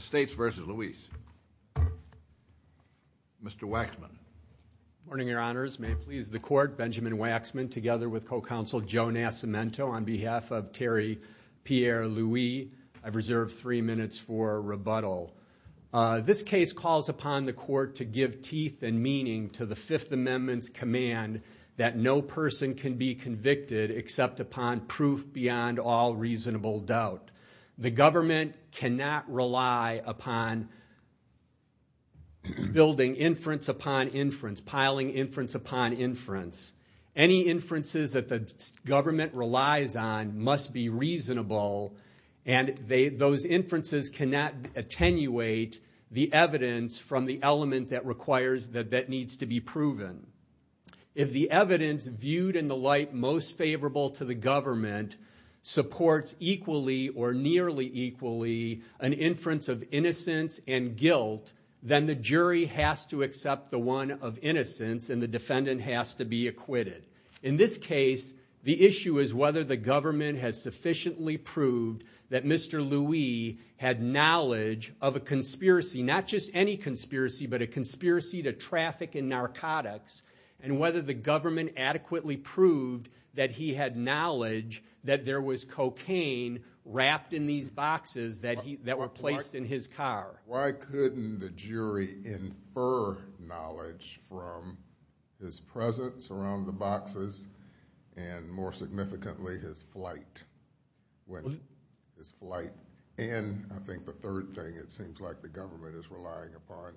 States v. Louis. Mr. Waxman. Good morning, Your Honors. May it please the Court, Benjamin Waxman, together with co-counsel Joe Nascimento, on behalf of Terry Pierre Louis, I've reserved three minutes for rebuttal. This case calls upon the Court to give teeth and meaning to the Fifth Amendment's command that no person can be convicted except upon proof beyond all reasonable doubt. The government cannot rely upon building inference upon inference, piling inference upon inference. Any inferences that the government relies on must be reasonable, and those inferences cannot attenuate the evidence from the element that needs to be proven. If the evidence viewed in the light most favorable to the government supports equally or nearly equally an inference of innocence and guilt, then the jury has to accept the one of innocence and the defendant has to be acquitted. In this case, the issue is whether the government has sufficiently proved that Mr. Louis had knowledge of a conspiracy, not just any conspiracy, but a conspiracy to traffic in narcotics, and whether the government adequately proved that he had knowledge that there was cocaine wrapped in these boxes that were placed in his car. Why couldn't the jury infer knowledge from his presence around the boxes and, more significantly, his flight in? And then I think the third thing, it seems like the government is relying upon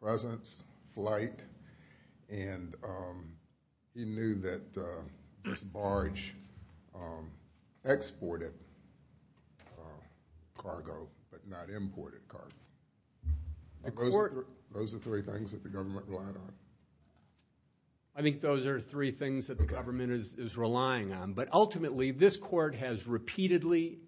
presence, flight, and he knew that this barge exported cargo but not imported cargo. Those are three things that the government relied on. I think those are three things that the government is relying on. But ultimately, this court has repeatedly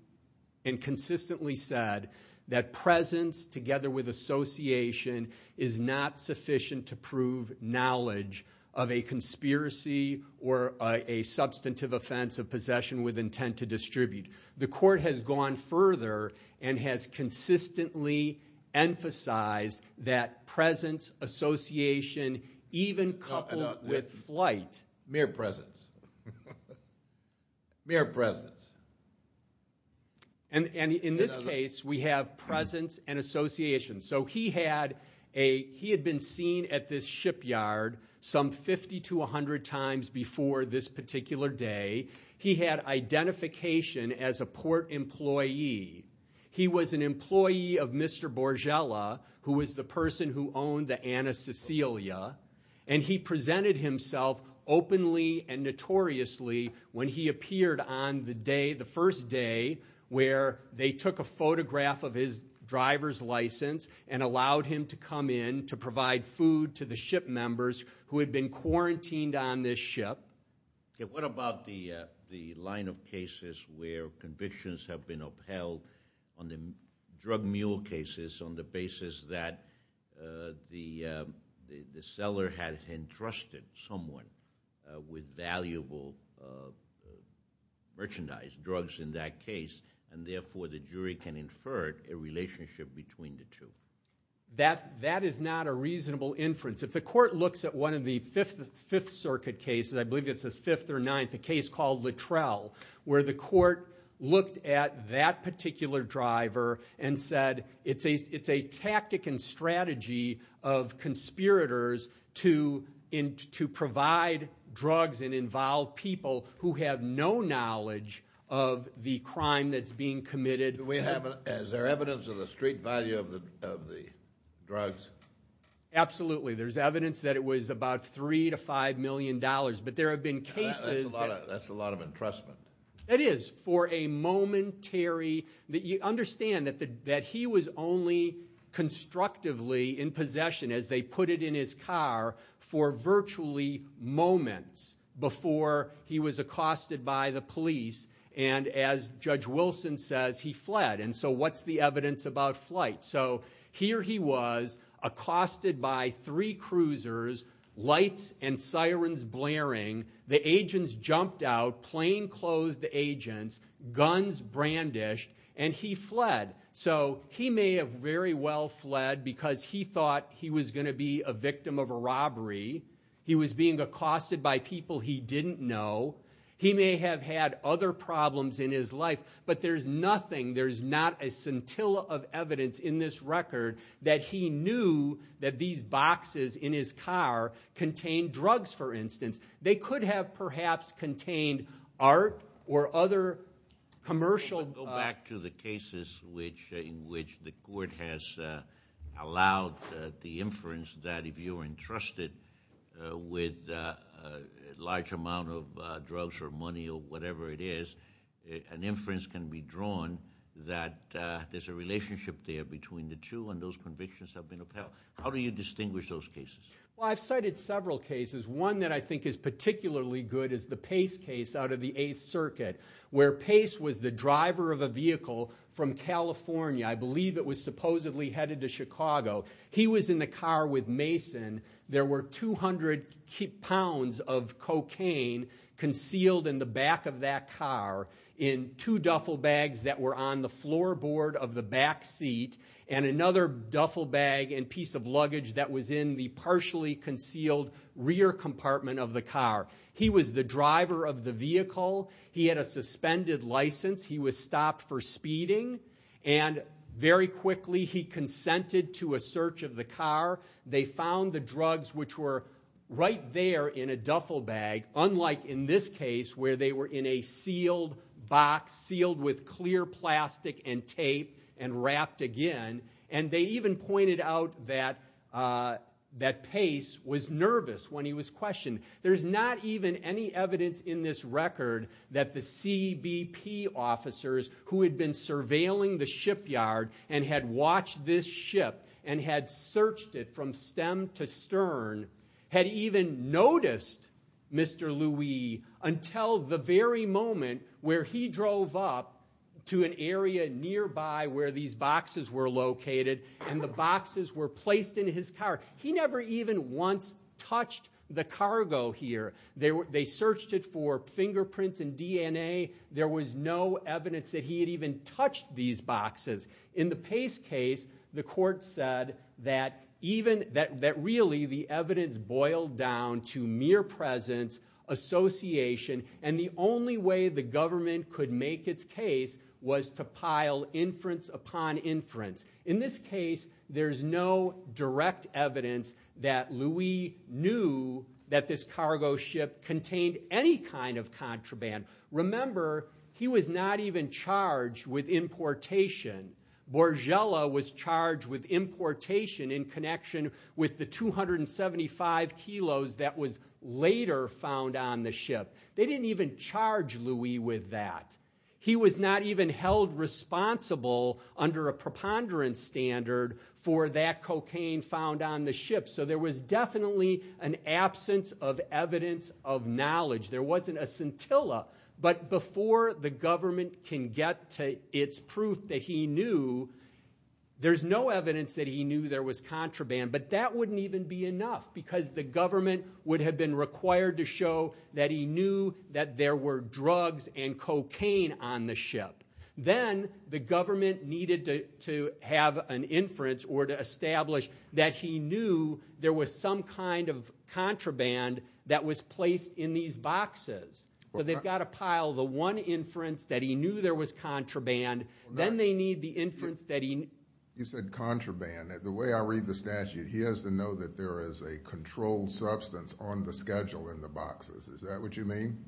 and consistently said that presence, together with association, is not sufficient to prove knowledge of a conspiracy or a substantive offense of possession with intent to distribute. The court has gone further and has consistently emphasized that presence, association, even coupled with flight. Mere presence. Mere presence. And in this case, we have presence and association. So he had been seen at this shipyard some 50 to 100 times before this particular day. He had identification as a port employee. He was an employee of Mr. Borgella, who was the person who owned the Ana Cecilia, and he presented himself openly and notoriously when he appeared on the day, the first day where they took a photograph of his driver's license and allowed him to come in to provide food to the ship members who had been quarantined on this ship. What about the line of cases where convictions have been upheld on the drug mule cases on the basis that the seller had entrusted someone with valuable merchandise, drugs in that case, and therefore the jury can infer a relationship between the two? That is not a reasonable inference. If the court looks at one of the Fifth Circuit cases, I believe it's the fifth or ninth, a case called Littrell, where the court looked at that particular driver and said it's a tactic and strategy of conspirators to provide drugs and involve people who have no knowledge of the crime that's being committed. Is there evidence of the street value of the drugs? Absolutely. There's evidence that it was about $3 million to $5 million. But there have been cases... That's a lot of entrustment. That is, for a momentary... Understand that he was only constructively in possession, as they put it in his car, for virtually moments before he was accosted by the police, and as Judge Wilson says, he fled. And so what's the evidence about flight? So here he was, accosted by three cruisers, lights and sirens blaring, the agents jumped out, plane closed the agents, guns brandished, and he fled. So he may have very well fled because he thought he was going to be a victim of a robbery. He was being accosted by people he didn't know. He may have had other problems in his life, but there's nothing, there's not a scintilla of evidence in this record that he knew that these boxes in his car contained drugs, for instance. They could have perhaps contained art or other commercial... I want to go back to the cases in which the court has allowed the inference that if you're entrusted with a large amount of drugs or money or whatever it is, an inference can be drawn that there's a relationship there between the two and those convictions have been upheld. How do you distinguish those cases? Well, I've cited several cases. One that I think is particularly good is the Pace case out of the Eighth Circuit, where Pace was the driver of a vehicle from California. I believe it was supposedly headed to Chicago. He was in the car with Mason. There were 200 pounds of cocaine concealed in the back of that car in two duffel bags that were on the floorboard of the back seat and another duffel bag and piece of luggage that was in the partially concealed rear compartment of the car. He was the driver of the vehicle. He had a suspended license. He was stopped for speeding, and very quickly he consented to a search of the car. They found the drugs, which were right there in a duffel bag, unlike in this case where they were in a sealed box, sealed with clear plastic and tape and wrapped again. And they even pointed out that Pace was nervous when he was questioned. There's not even any evidence in this record that the CBP officers who had been surveilling the shipyard and had watched this ship and had searched it from stem to stern had even noticed Mr. Louis until the very moment where he drove up to an area nearby where these boxes were located and the boxes were placed in his car. He never even once touched the cargo here. They searched it for fingerprints and DNA. There was no evidence that he had even touched these boxes. In the Pace case, the court said that really the evidence boiled down to mere presence, association, and the only way the government could make its case was to pile inference upon inference. In this case, there's no direct evidence that Louis knew that this cargo ship contained any kind of contraband. Remember, he was not even charged with importation. Borgella was charged with importation in connection with the 275 kilos that was later found on the ship. They didn't even charge Louis with that. He was not even held responsible under a preponderance standard for that cocaine found on the ship. So there was definitely an absence of evidence of knowledge. There wasn't a scintilla. But before the government can get to its proof that he knew, there's no evidence that he knew there was contraband. But that wouldn't even be enough because the government would have been required to show that he knew that there were drugs and cocaine on the ship. Then the government needed to have an inference or to establish that he knew there was some kind of contraband that was placed in these boxes. So they've got to pile the one inference that he knew there was contraband. Then they need the inference that he knew. You said contraband. The way I read the statute, he has to know that there is a controlled substance on the schedule in the boxes. Is that what you mean?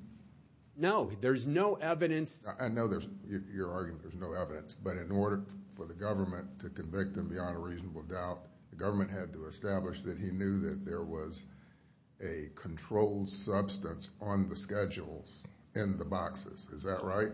No. There's no evidence. I know you're arguing there's no evidence. But in order for the government to convict him beyond a reasonable doubt, the government had to establish that he knew that there was a controlled substance on the schedules in the boxes. Is that right?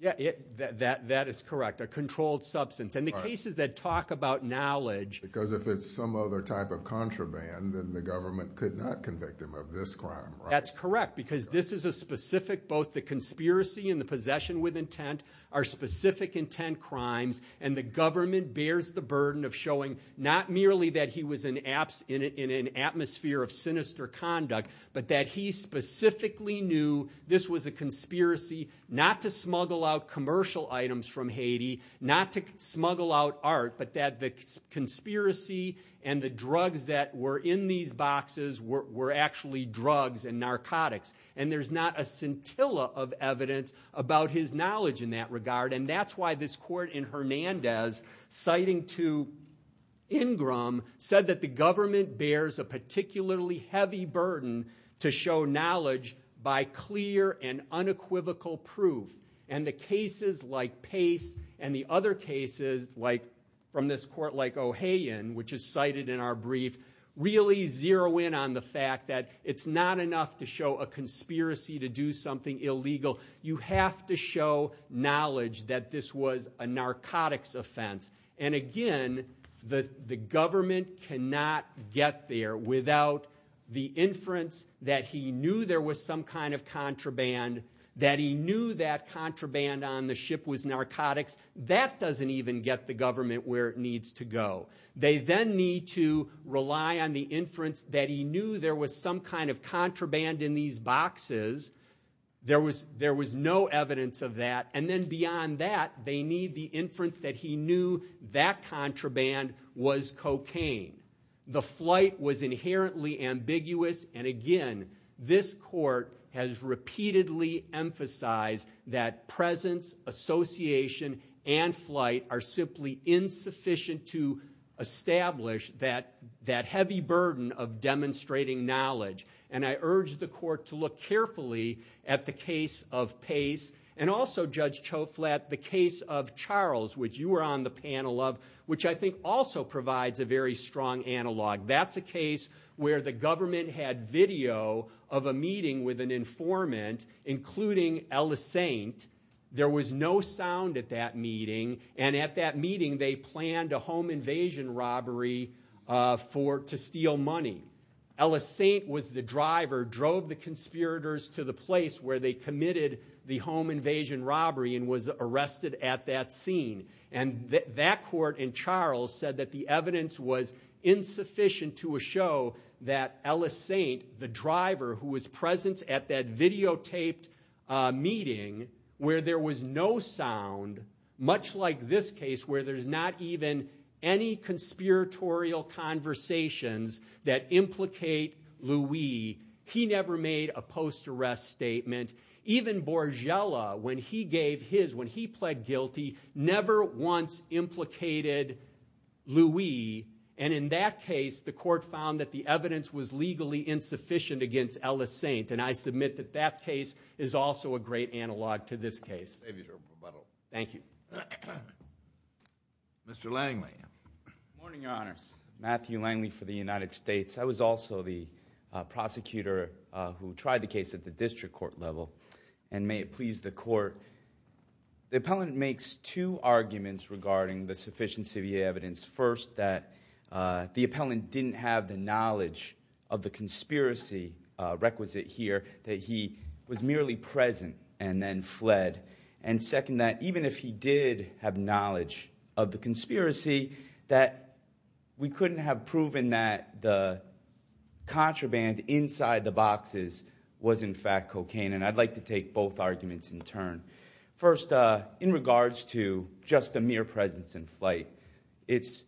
That is correct, a controlled substance. And the cases that talk about knowledge. Because if it's some other type of contraband, then the government could not convict him of this crime, right? That's correct because this is a specific, both the conspiracy and the possession with intent, are specific intent crimes. And the government bears the burden of showing, not merely that he was in an atmosphere of sinister conduct, but that he specifically knew this was a conspiracy, not to smuggle out commercial items from Haiti, not to smuggle out art, but that the conspiracy and the drugs that were in these boxes were actually drugs and narcotics. And there's not a scintilla of evidence about his knowledge in that regard. And that's why this court in Hernandez, citing to Ingram, said that the government bears a particularly heavy burden to show knowledge by clear and unequivocal proof. And the cases like Pace and the other cases from this court like O'Hagan, which is cited in our brief, really zero in on the fact that it's not enough to show a conspiracy to do something illegal. You have to show knowledge that this was a narcotics offense. And again, the government cannot get there without the inference that he knew there was some kind of contraband, that he knew that contraband on the ship was narcotics. That doesn't even get the government where it needs to go. They then need to rely on the inference that he knew there was some kind of contraband in these boxes. There was no evidence of that. And then beyond that, they need the inference that he knew that contraband was cocaine. The flight was inherently ambiguous. And again, this court has repeatedly emphasized that presence, association, and flight are simply insufficient to establish that heavy burden of demonstrating knowledge. And I urge the court to look carefully at the case of Pace and also, Judge Choflat, the case of Charles, which you were on the panel of, which I think also provides a very strong analog. That's a case where the government had video of a meeting with an informant, including Ellis Saint. There was no sound at that meeting. And at that meeting, they planned a home invasion robbery to steal money. Ellis Saint was the driver, drove the conspirators to the place where they committed the home invasion robbery and was arrested at that scene. And that court in Charles said that the evidence was insufficient to show that Ellis Saint, the driver who was present at that videotaped meeting, where there was no sound, much like this case where there's not even any conspiratorial conversations that implicate Louis, he never made a post-arrest statement. Even Borgella, when he gave his, when he pled guilty, never once implicated Louis. And in that case, the court found that the evidence was legally insufficient against Ellis Saint. And I submit that that case is also a great analog to this case. Mr. Langley. Good morning, Your Honors. Matthew Langley for the United States. I was also the prosecutor who tried the case at the district court level. And may it please the court, the appellant makes two arguments regarding the sufficiency of the evidence. First, that the appellant didn't have the knowledge of the conspiracy requisite here, that he was merely present and then fled. And second, that even if he did have knowledge of the conspiracy, that we couldn't have proven that the contraband inside the boxes was in fact cocaine. And I'd like to take both arguments in turn. First, in regards to just a mere presence in flight, it's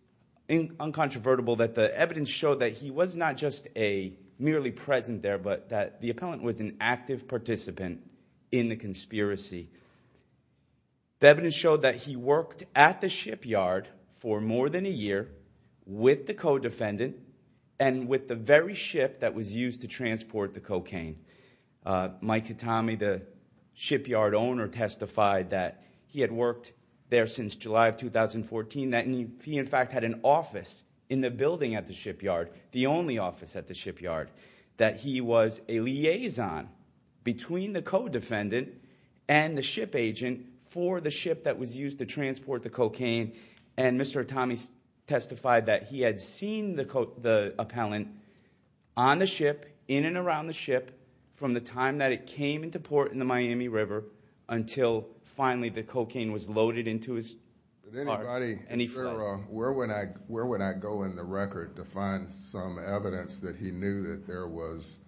uncontrovertible that the evidence showed that he was not just a merely present there, but that the appellant was an active participant in the conspiracy. The evidence showed that he worked at the shipyard for more than a year with the co-defendant and with the very ship that was used to transport the cocaine. Mike Kitami, the shipyard owner, testified that he had worked there since July of 2014, that he in fact had an office in the building at the shipyard, the only office at the shipyard, that he was a liaison between the co-defendant and the ship agent for the ship that was used to transport the cocaine. And Mr. Kitami testified that he had seen the appellant on the ship, in and around the ship, from the time that it came into port in the Miami River until finally the cocaine was loaded into his car and he fled. Where would I go in the record to find some evidence that he knew that there was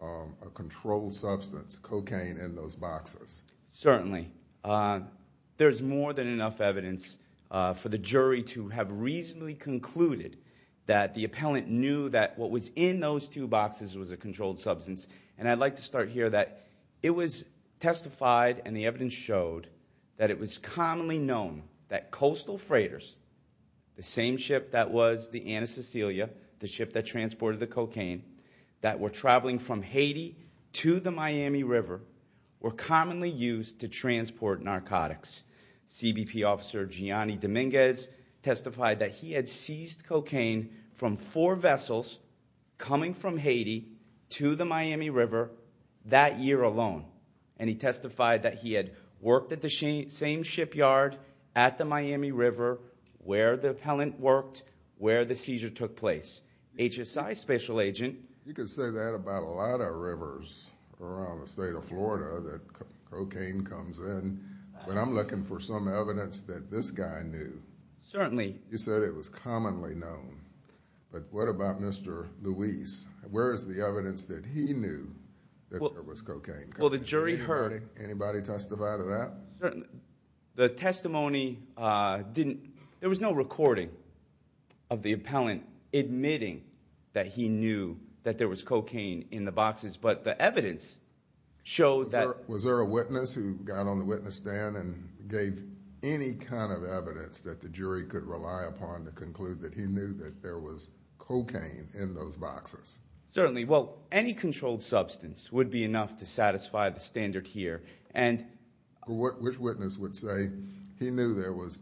a controlled substance, cocaine, in those boxes? Certainly. There's more than enough evidence for the jury to have reasonably concluded that the appellant knew that what was in those two boxes was a controlled substance. And I'd like to start here that it was testified and the evidence showed that it was commonly known that coastal freighters, the same ship that was the Ana Cecilia, the ship that transported the cocaine, that were traveling from Haiti to the Miami River were commonly used to transport narcotics. CBP officer Gianni Dominguez testified that he had seized cocaine from four vessels coming from Haiti to the Miami River that year alone. And he testified that he had worked at the same shipyard at the Miami River where the appellant worked, where the seizure took place. HSI special agent... You could say that about a lot of rivers around the state of Florida that cocaine comes in. But I'm looking for some evidence that this guy knew. Certainly. You said it was commonly known. But what about Mr. Luis? Where is the evidence that he knew that there was cocaine? Well, the jury heard... Anybody testify to that? The testimony didn't... There was no recording of the appellant admitting that he knew that there was cocaine in the boxes. But the evidence showed that... Was there a witness who got on the witness stand and gave any kind of evidence that the jury could rely upon to conclude that he knew that there was cocaine in those boxes? Certainly. Well, any controlled substance would be enough to satisfy the standard here. Which witness would say he knew there was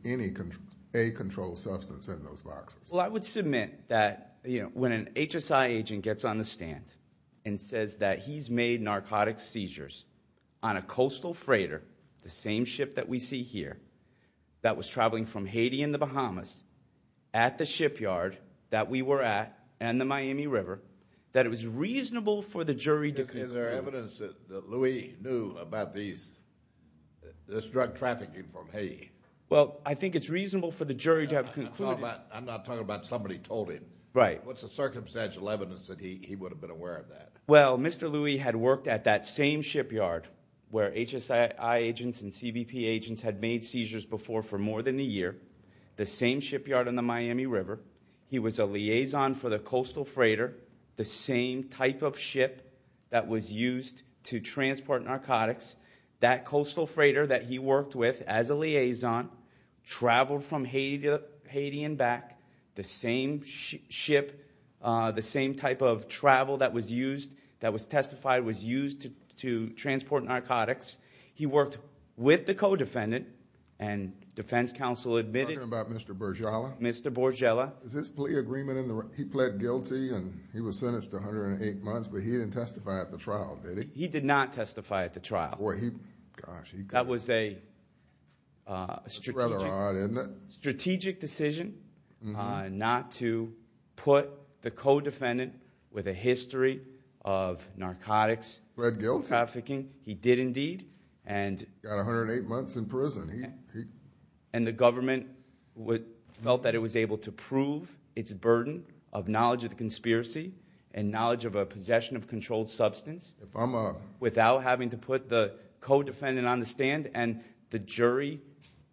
a controlled substance in those boxes? Well, I would submit that when an HSI agent gets on the stand and says that he's made narcotic seizures on a coastal freighter, the same ship that we see here, that was traveling from Haiti and the Bahamas at the shipyard that we were at and the Miami River, that it was reasonable for the jury to conclude... Is there evidence that Louis knew about this drug trafficking from Haiti? Well, I think it's reasonable for the jury to have concluded... I'm not talking about somebody told him. Right. What's the circumstantial evidence that he would have been aware of that? Well, Mr. Louis had worked at that same shipyard where HSI agents and CBP agents had made seizures before for more than a year, the same shipyard on the Miami River. He was a liaison for the coastal freighter, the same type of ship that was used to transport narcotics. That coastal freighter that he worked with as a liaison traveled from Haiti and back, the same ship, the same type of travel that was used, that was testified, was used to transport narcotics. He worked with the co-defendant, and defense counsel admitted... I'm talking about Mr. Bourgella. Mr. Bourgella. Is this plea agreement in the... he pled guilty and he was sentenced to 108 months, but he didn't testify at the trial, did he? He did not testify at the trial. Boy, he... gosh, he... That was a strategic... That's rather odd, isn't it? Strategic decision not to put the co-defendant with a history of narcotics trafficking. He pled guilty. He did indeed. He got 108 months in prison. The government felt that it was able to prove its burden of knowledge of the conspiracy and knowledge of a possession of controlled substance... If I'm a...... without having to put the co-defendant on the stand, and the jury,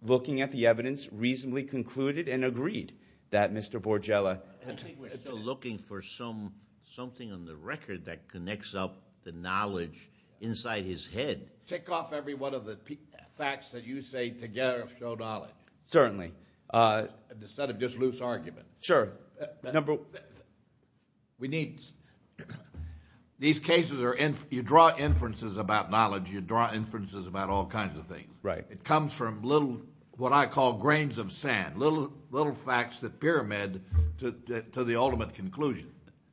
looking at the evidence, reasonably concluded and agreed that Mr. Bourgella... I think we're still looking for something on the record that connects up the knowledge inside his head. Tick off every one of the facts that you say together show knowledge. Certainly. Instead of just loose argument. Sure. Number... We need... These cases are... you draw inferences about knowledge. You draw inferences about all kinds of things. Right. It comes from little... what I call grains of sand, little facts that pyramid to the ultimate conclusion,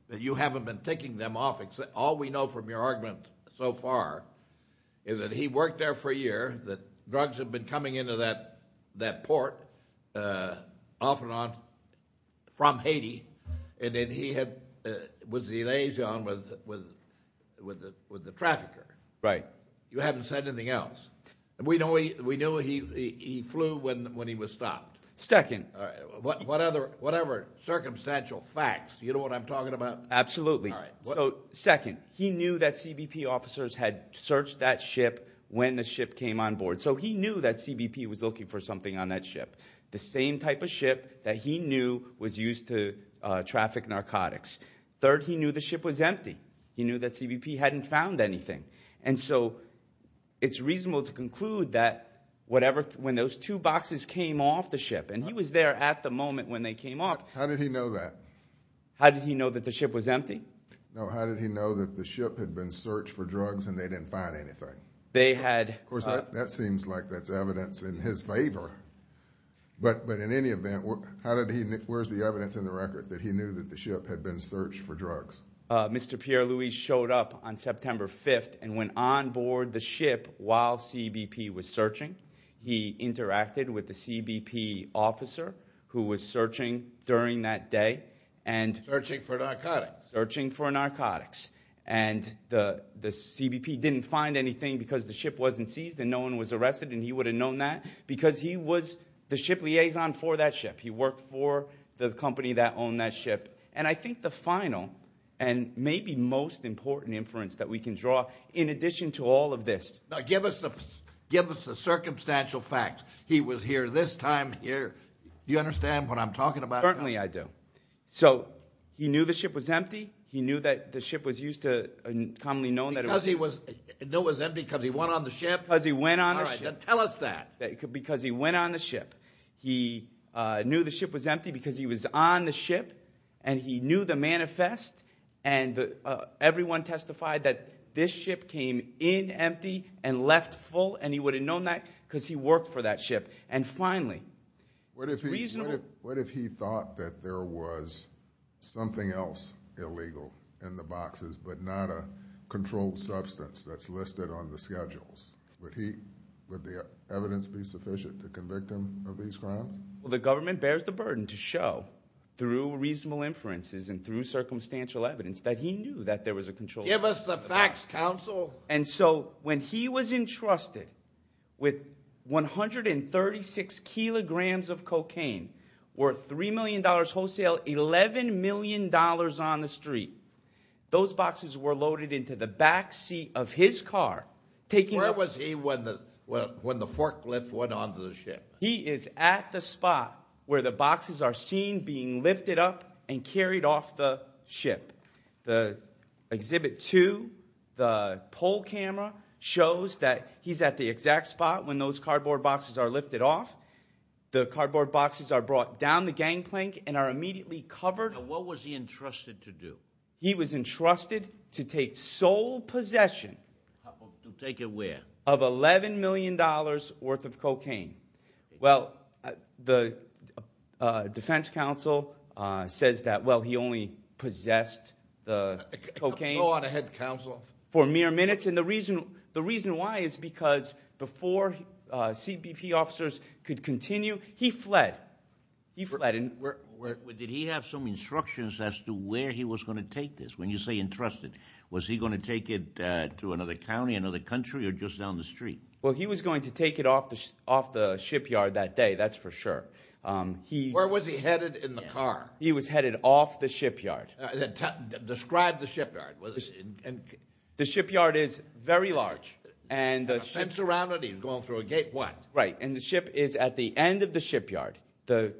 that you haven't been ticking them off. All we know from your argument so far is that he worked there for a year, that drugs had been coming into that port off and on from Haiti, and that he was the liaison with the trafficker. Right. You haven't said anything else. We know he flew when he was stopped. Second... Whatever circumstantial facts, you know what I'm talking about? Absolutely. All right. Second, he knew that CBP officers had searched that ship when the ship came on board. So he knew that CBP was looking for something on that ship, the same type of ship that he knew was used to traffic narcotics. Third, he knew the ship was empty. He knew that CBP hadn't found anything. And so it's reasonable to conclude that when those two boxes came off the ship, and he was there at the moment when they came off... How did he know that? How did he know that the ship was empty? No, how did he know that the ship had been searched for drugs and they didn't find anything? They had... Of course, that seems like that's evidence in his favor. But in any event, where's the evidence in the record that he knew that the ship had been searched for drugs? Mr. Pierre-Louis showed up on September 5th and went on board the ship while CBP was searching. He interacted with the CBP officer who was searching during that day and... Searching for narcotics. Searching for narcotics. And the CBP didn't find anything because the ship wasn't seized and no one was arrested and he would have known that because he was the ship liaison for that ship. He worked for the company that owned that ship. And I think the final and maybe most important inference that we can draw, in addition to all of this... Give us the circumstantial facts. He was here this time, here... Do you understand what I'm talking about? Certainly I do. So he knew the ship was empty. He knew that the ship was used to commonly known that it was... Because he knew it was empty because he went on the ship? Because he went on the ship. All right, then tell us that. Because he went on the ship. He knew the ship was empty because he was on the ship and he knew the manifest and everyone testified that this ship came in empty and left full and he would have known that because he worked for that ship. And finally, reasonable... What if he thought that there was something else illegal in the boxes but not a controlled substance that's listed on the schedules? Would the evidence be sufficient to convict him of these crimes? Well, the government bears the burden to show through reasonable inferences and through circumstantial evidence that he knew that there was a controlled substance. Give us the facts, counsel. And so when he was entrusted with 136 kilograms of cocaine worth $3 million wholesale, $11 million on the street, those boxes were loaded into the back seat of his car. Where was he when the forklift went onto the ship? He is at the spot where the boxes are seen being lifted up and carried off the ship. The Exhibit 2, the poll camera, shows that he's at the exact spot when those cardboard boxes are lifted off. The cardboard boxes are brought down the gangplank and are immediately covered. And what was he entrusted to do? He was entrusted to take sole possession... To take it where? Of $11 million worth of cocaine. Well, the defense counsel says that, well, he only possessed the cocaine... Go on ahead, counsel.... for mere minutes. And the reason why is because before CBP officers could continue, he fled. He fled. Did he have some instructions as to where he was going to take this? When you say entrusted, was he going to take it to another county, another country, or just down the street? Well, he was going to take it off the shipyard that day, that's for sure. Where was he headed in the car? He was headed off the shipyard. Describe the shipyard. The shipyard is very large. And the... A fence around it, he was going through a gate, what? Right, and the ship is at the end of the shipyard. The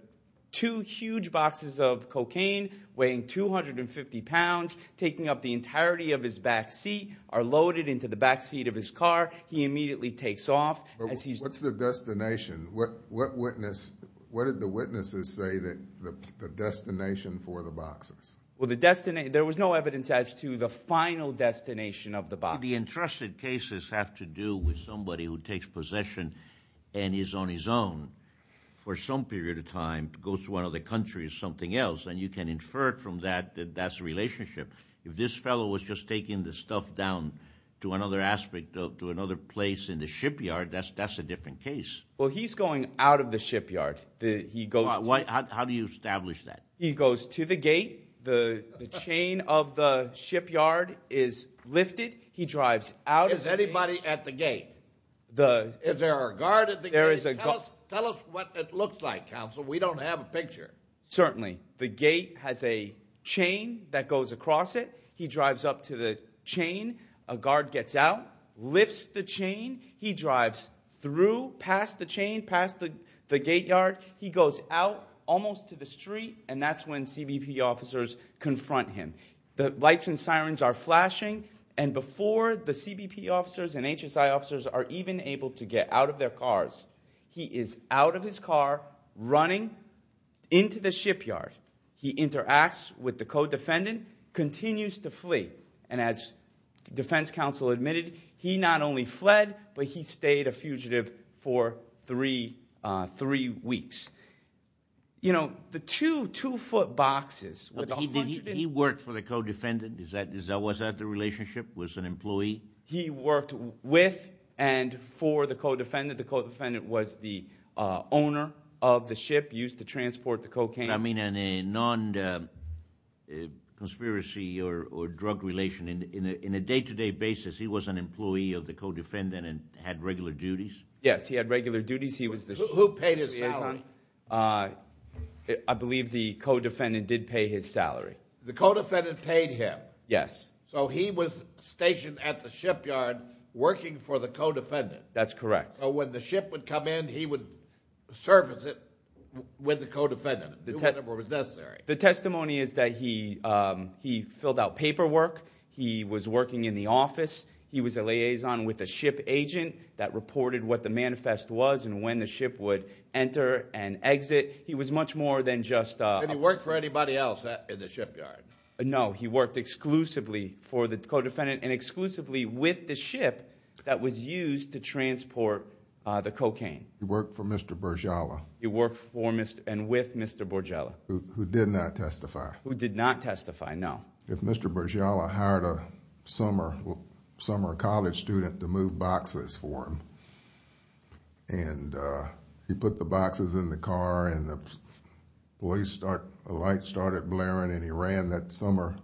two huge boxes of cocaine weighing 250 pounds, taking up the entirety of his back seat, are loaded into the back seat of his car. He immediately takes off. What's the destination? What did the witnesses say that the destination for the boxes? Well, there was no evidence as to the final destination of the boxes. The entrusted cases have to do with somebody who takes possession and is on his own for some period of time, goes to another country or something else, and you can infer from that that that's a relationship. If this fellow was just taking the stuff down to another aspect, to another place in the shipyard, that's a different case. Well, he's going out of the shipyard. How do you establish that? He goes to the gate. The chain of the shipyard is lifted. He drives out of the gate. Is anybody at the gate? Is there a guard at the gate? Tell us what it looks like, counsel. We don't have a picture. Certainly. The gate has a chain that goes across it. He drives up to the chain. A guard gets out, lifts the chain. He drives through, past the chain, past the gate yard. He goes out almost to the street, and that's when CBP officers confront him. The lights and sirens are flashing, and before the CBP officers and HSI officers are even able to get out of their cars, he is out of his car, running into the shipyard. He interacts with the co-defendant, continues to flee, and as defense counsel admitted, he not only fled, but he stayed a fugitive for three weeks. You know, the two two-foot boxes. Did he work for the co-defendant? Was that the relationship with an employee? He worked with and for the co-defendant. The co-defendant was the owner of the ship used to transport the cocaine. I mean in a non-conspiracy or drug relation, in a day-to-day basis, he was an employee of the co-defendant and had regular duties? Yes, he had regular duties. Who paid his salary? I believe the co-defendant did pay his salary. The co-defendant paid him? Yes. So he was stationed at the shipyard working for the co-defendant? That's correct. So when the ship would come in, he would service it with the co-defendant whenever it was necessary? The testimony is that he filled out paperwork. He was working in the office. He was a liaison with a ship agent that reported what the manifest was and when the ship would enter and exit. He was much more than just a— Did he work for anybody else in the shipyard? No, he worked exclusively for the co-defendant and exclusively with the ship that was used to transport the cocaine. He worked for Mr. Bourgella? He worked for and with Mr. Bourgella. Who did not testify? Who did not testify, no. If Mr. Bourgella hired a summer college student to move boxes for him and he put the boxes in the car and the lights started blaring and he ran that summer—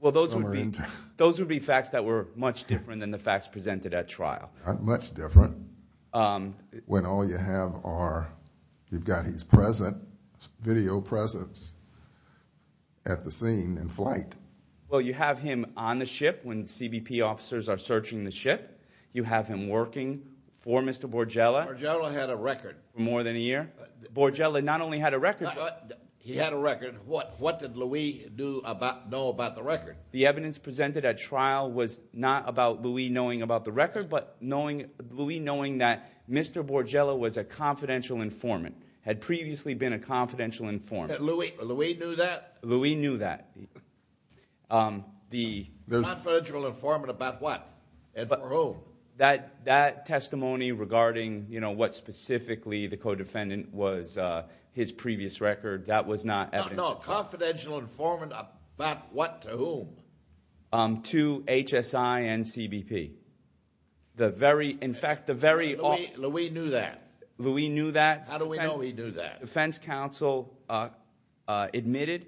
Well, those would be facts that were much different than the facts presented at trial. Not much different when all you have are—you've got his presence, video presence at the scene in flight. Well, you have him on the ship when CBP officers are searching the ship. You have him working for Mr. Bourgella. Bourgella had a record. For more than a year. Bourgella not only had a record— He had a record. What did Louis know about the record? The evidence presented at trial was not about Louis knowing about the record, but Louis knowing that Mr. Bourgella was a confidential informant, had previously been a confidential informant. Louis knew that? Louis knew that. A confidential informant about what? That testimony regarding what specifically the co-defendant was, his previous record, that was not evidence. No, a confidential informant about what to whom? To HSI and CBP. The very—in fact, the very— Louis knew that? Louis knew that. How do we know he knew that? Defense counsel admitted—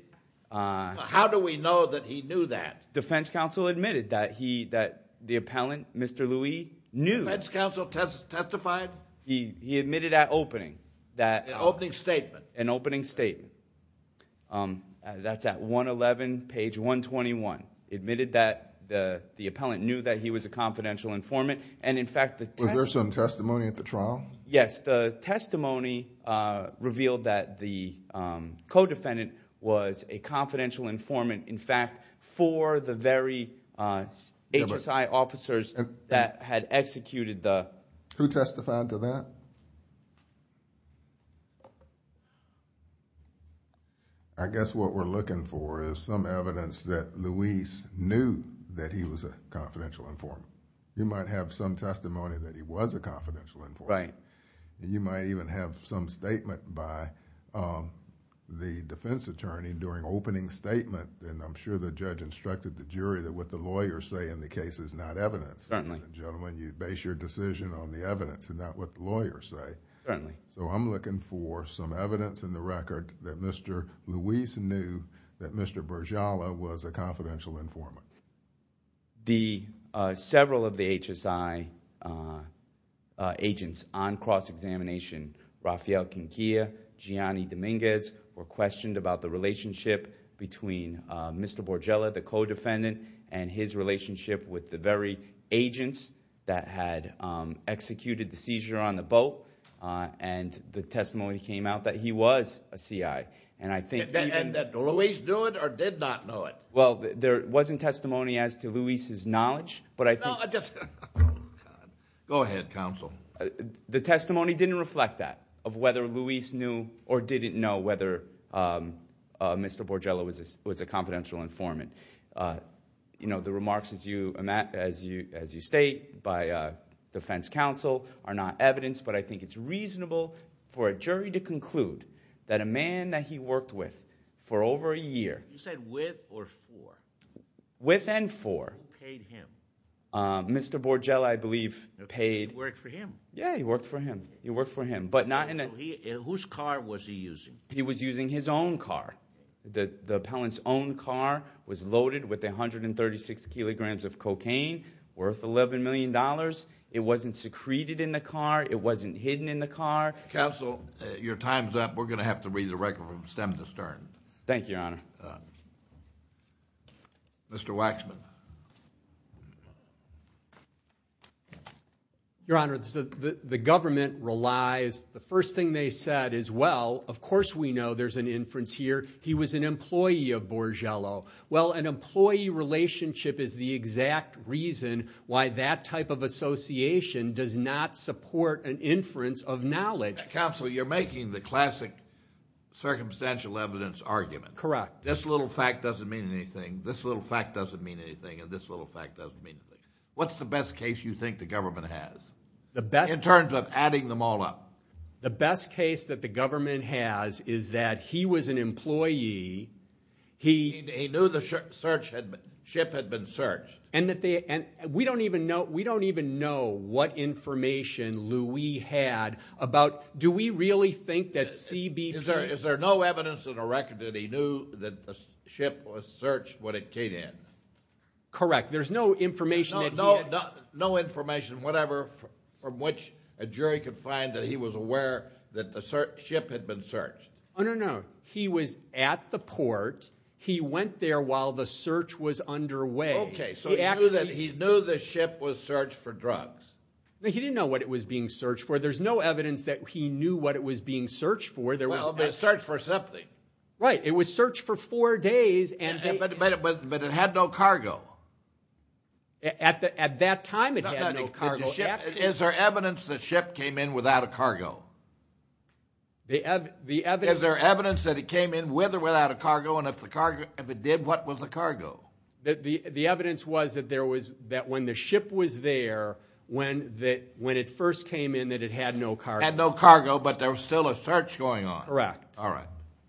How do we know that he knew that? Defense counsel admitted that he—that the appellant, Mr. Louis, knew— Defense counsel testified? He admitted at opening that— An opening statement. An opening statement. That's at 111, page 121. Admitted that the appellant knew that he was a confidential informant, and in fact— Was there some testimony at the trial? Yes. The testimony revealed that the co-defendant was a confidential informant, in fact, for the very HSI officers that had executed the— Who testified to that? I guess what we're looking for is some evidence that Louis knew that he was a confidential informant. You might have some testimony that he was a confidential informant. Right. You might even have some statement by the defense attorney during opening statement, and I'm sure the judge instructed the jury that what the lawyers say in the case is not evidence. Certainly. Gentlemen, you base your decision on the evidence and not what the lawyers say. Certainly. So I'm looking for some evidence in the record that Mr. Louis knew that Mr. Borgella was a confidential informant. The—several of the HSI agents on cross-examination, Rafael Quinqueira, Gianni Dominguez, were questioned about the relationship between Mr. Borgella, the co-defendant, and his relationship with the very agents that had executed the seizure on the boat, and the testimony came out that he was a CI, and I think— And that Louis knew it or did not know it? Well, there wasn't testimony as to Louis' knowledge, but I think— No, I just— Go ahead, counsel. The testimony didn't reflect that, of whether Louis knew or didn't know whether Mr. Borgella was a confidential informant. The remarks as you state by defense counsel are not evidence, but I think it's reasonable for a jury to conclude that a man that he worked with for over a year— You said with or for? With and for. Who paid him? Mr. Borgella, I believe, paid— He worked for him. Yeah, he worked for him. He worked for him, but not in a— Whose car was he using? He was using his own car. The appellant's own car was loaded with 136 kilograms of cocaine worth $11 million. It wasn't secreted in the car. It wasn't hidden in the car. Counsel, your time's up. We're going to have to read the record from stem to stern. Thank you, Your Honor. Mr. Waxman. Your Honor, the government relies—the first thing they said is, well, of course we know there's an inference here. He was an employee of Borgella. Well, an employee relationship is the exact reason why that type of association does not support an inference of knowledge. Counsel, you're making the classic circumstantial evidence argument. Correct. This little fact doesn't mean anything, this little fact doesn't mean anything, and this little fact doesn't mean anything. What's the best case you think the government has in terms of adding them all up? The best case that the government has is that he was an employee. He knew the ship had been searched. And we don't even know what information Louis had about—do we really think that CBP— that the ship was searched when it came in? Correct. There's no information that he had— No information, whatever, from which a jury could find that he was aware that the ship had been searched. No, no, no. He was at the port. He went there while the search was underway. Okay, so he knew the ship was searched for drugs. No, he didn't know what it was being searched for. There's no evidence that he knew what it was being searched for. Well, it was searched for something. Right. It was searched for four days, and— But it had no cargo. At that time, it had no cargo. Is there evidence the ship came in without a cargo? Is there evidence that it came in with or without a cargo, and if it did, what was the cargo? The evidence was that when the ship was there, when it first came in, that it had no cargo. It had no cargo, but there was still a search going on. Correct.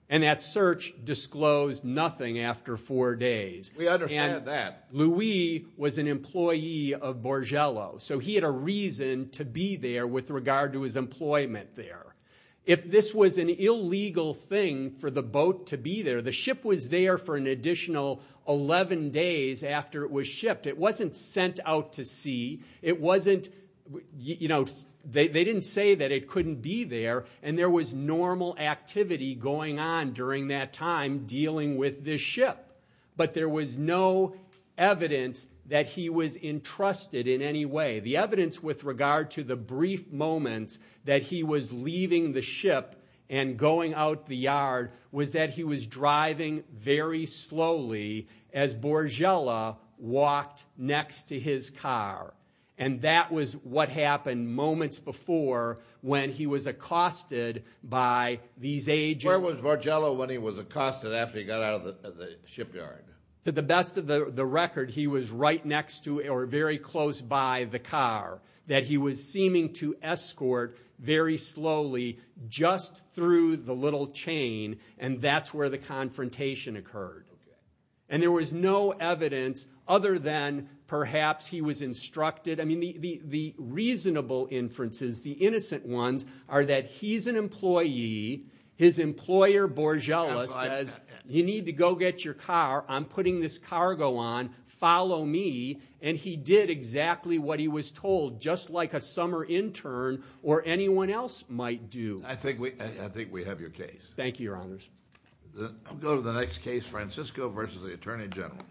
And that search disclosed nothing after four days. We understand that. And Louis was an employee of Borgello, so he had a reason to be there with regard to his employment there. If this was an illegal thing for the boat to be there, the ship was there for an additional 11 days after it was shipped. It wasn't sent out to sea. They didn't say that it couldn't be there, and there was normal activity going on during that time dealing with this ship. But there was no evidence that he was entrusted in any way. The evidence with regard to the brief moments that he was leaving the ship and going out the yard was that he was driving very slowly as Borgello walked next to his car, and that was what happened moments before when he was accosted by these agents. Where was Borgello when he was accosted after he got out of the shipyard? To the best of the record, he was right next to or very close by the car, that he was seeming to escort very slowly just through the little chain, and that's where the confrontation occurred. And there was no evidence other than perhaps he was instructed. I mean, the reasonable inferences, the innocent ones, are that he's an employee. His employer, Borgello, says, you need to go get your car. I'm putting this cargo on. Follow me. And he did exactly what he was told, just like a summer intern or anyone else might do. I think we have your case. Thank you, Your Honors. I'll go to the next case, Francisco v. The Attorney General.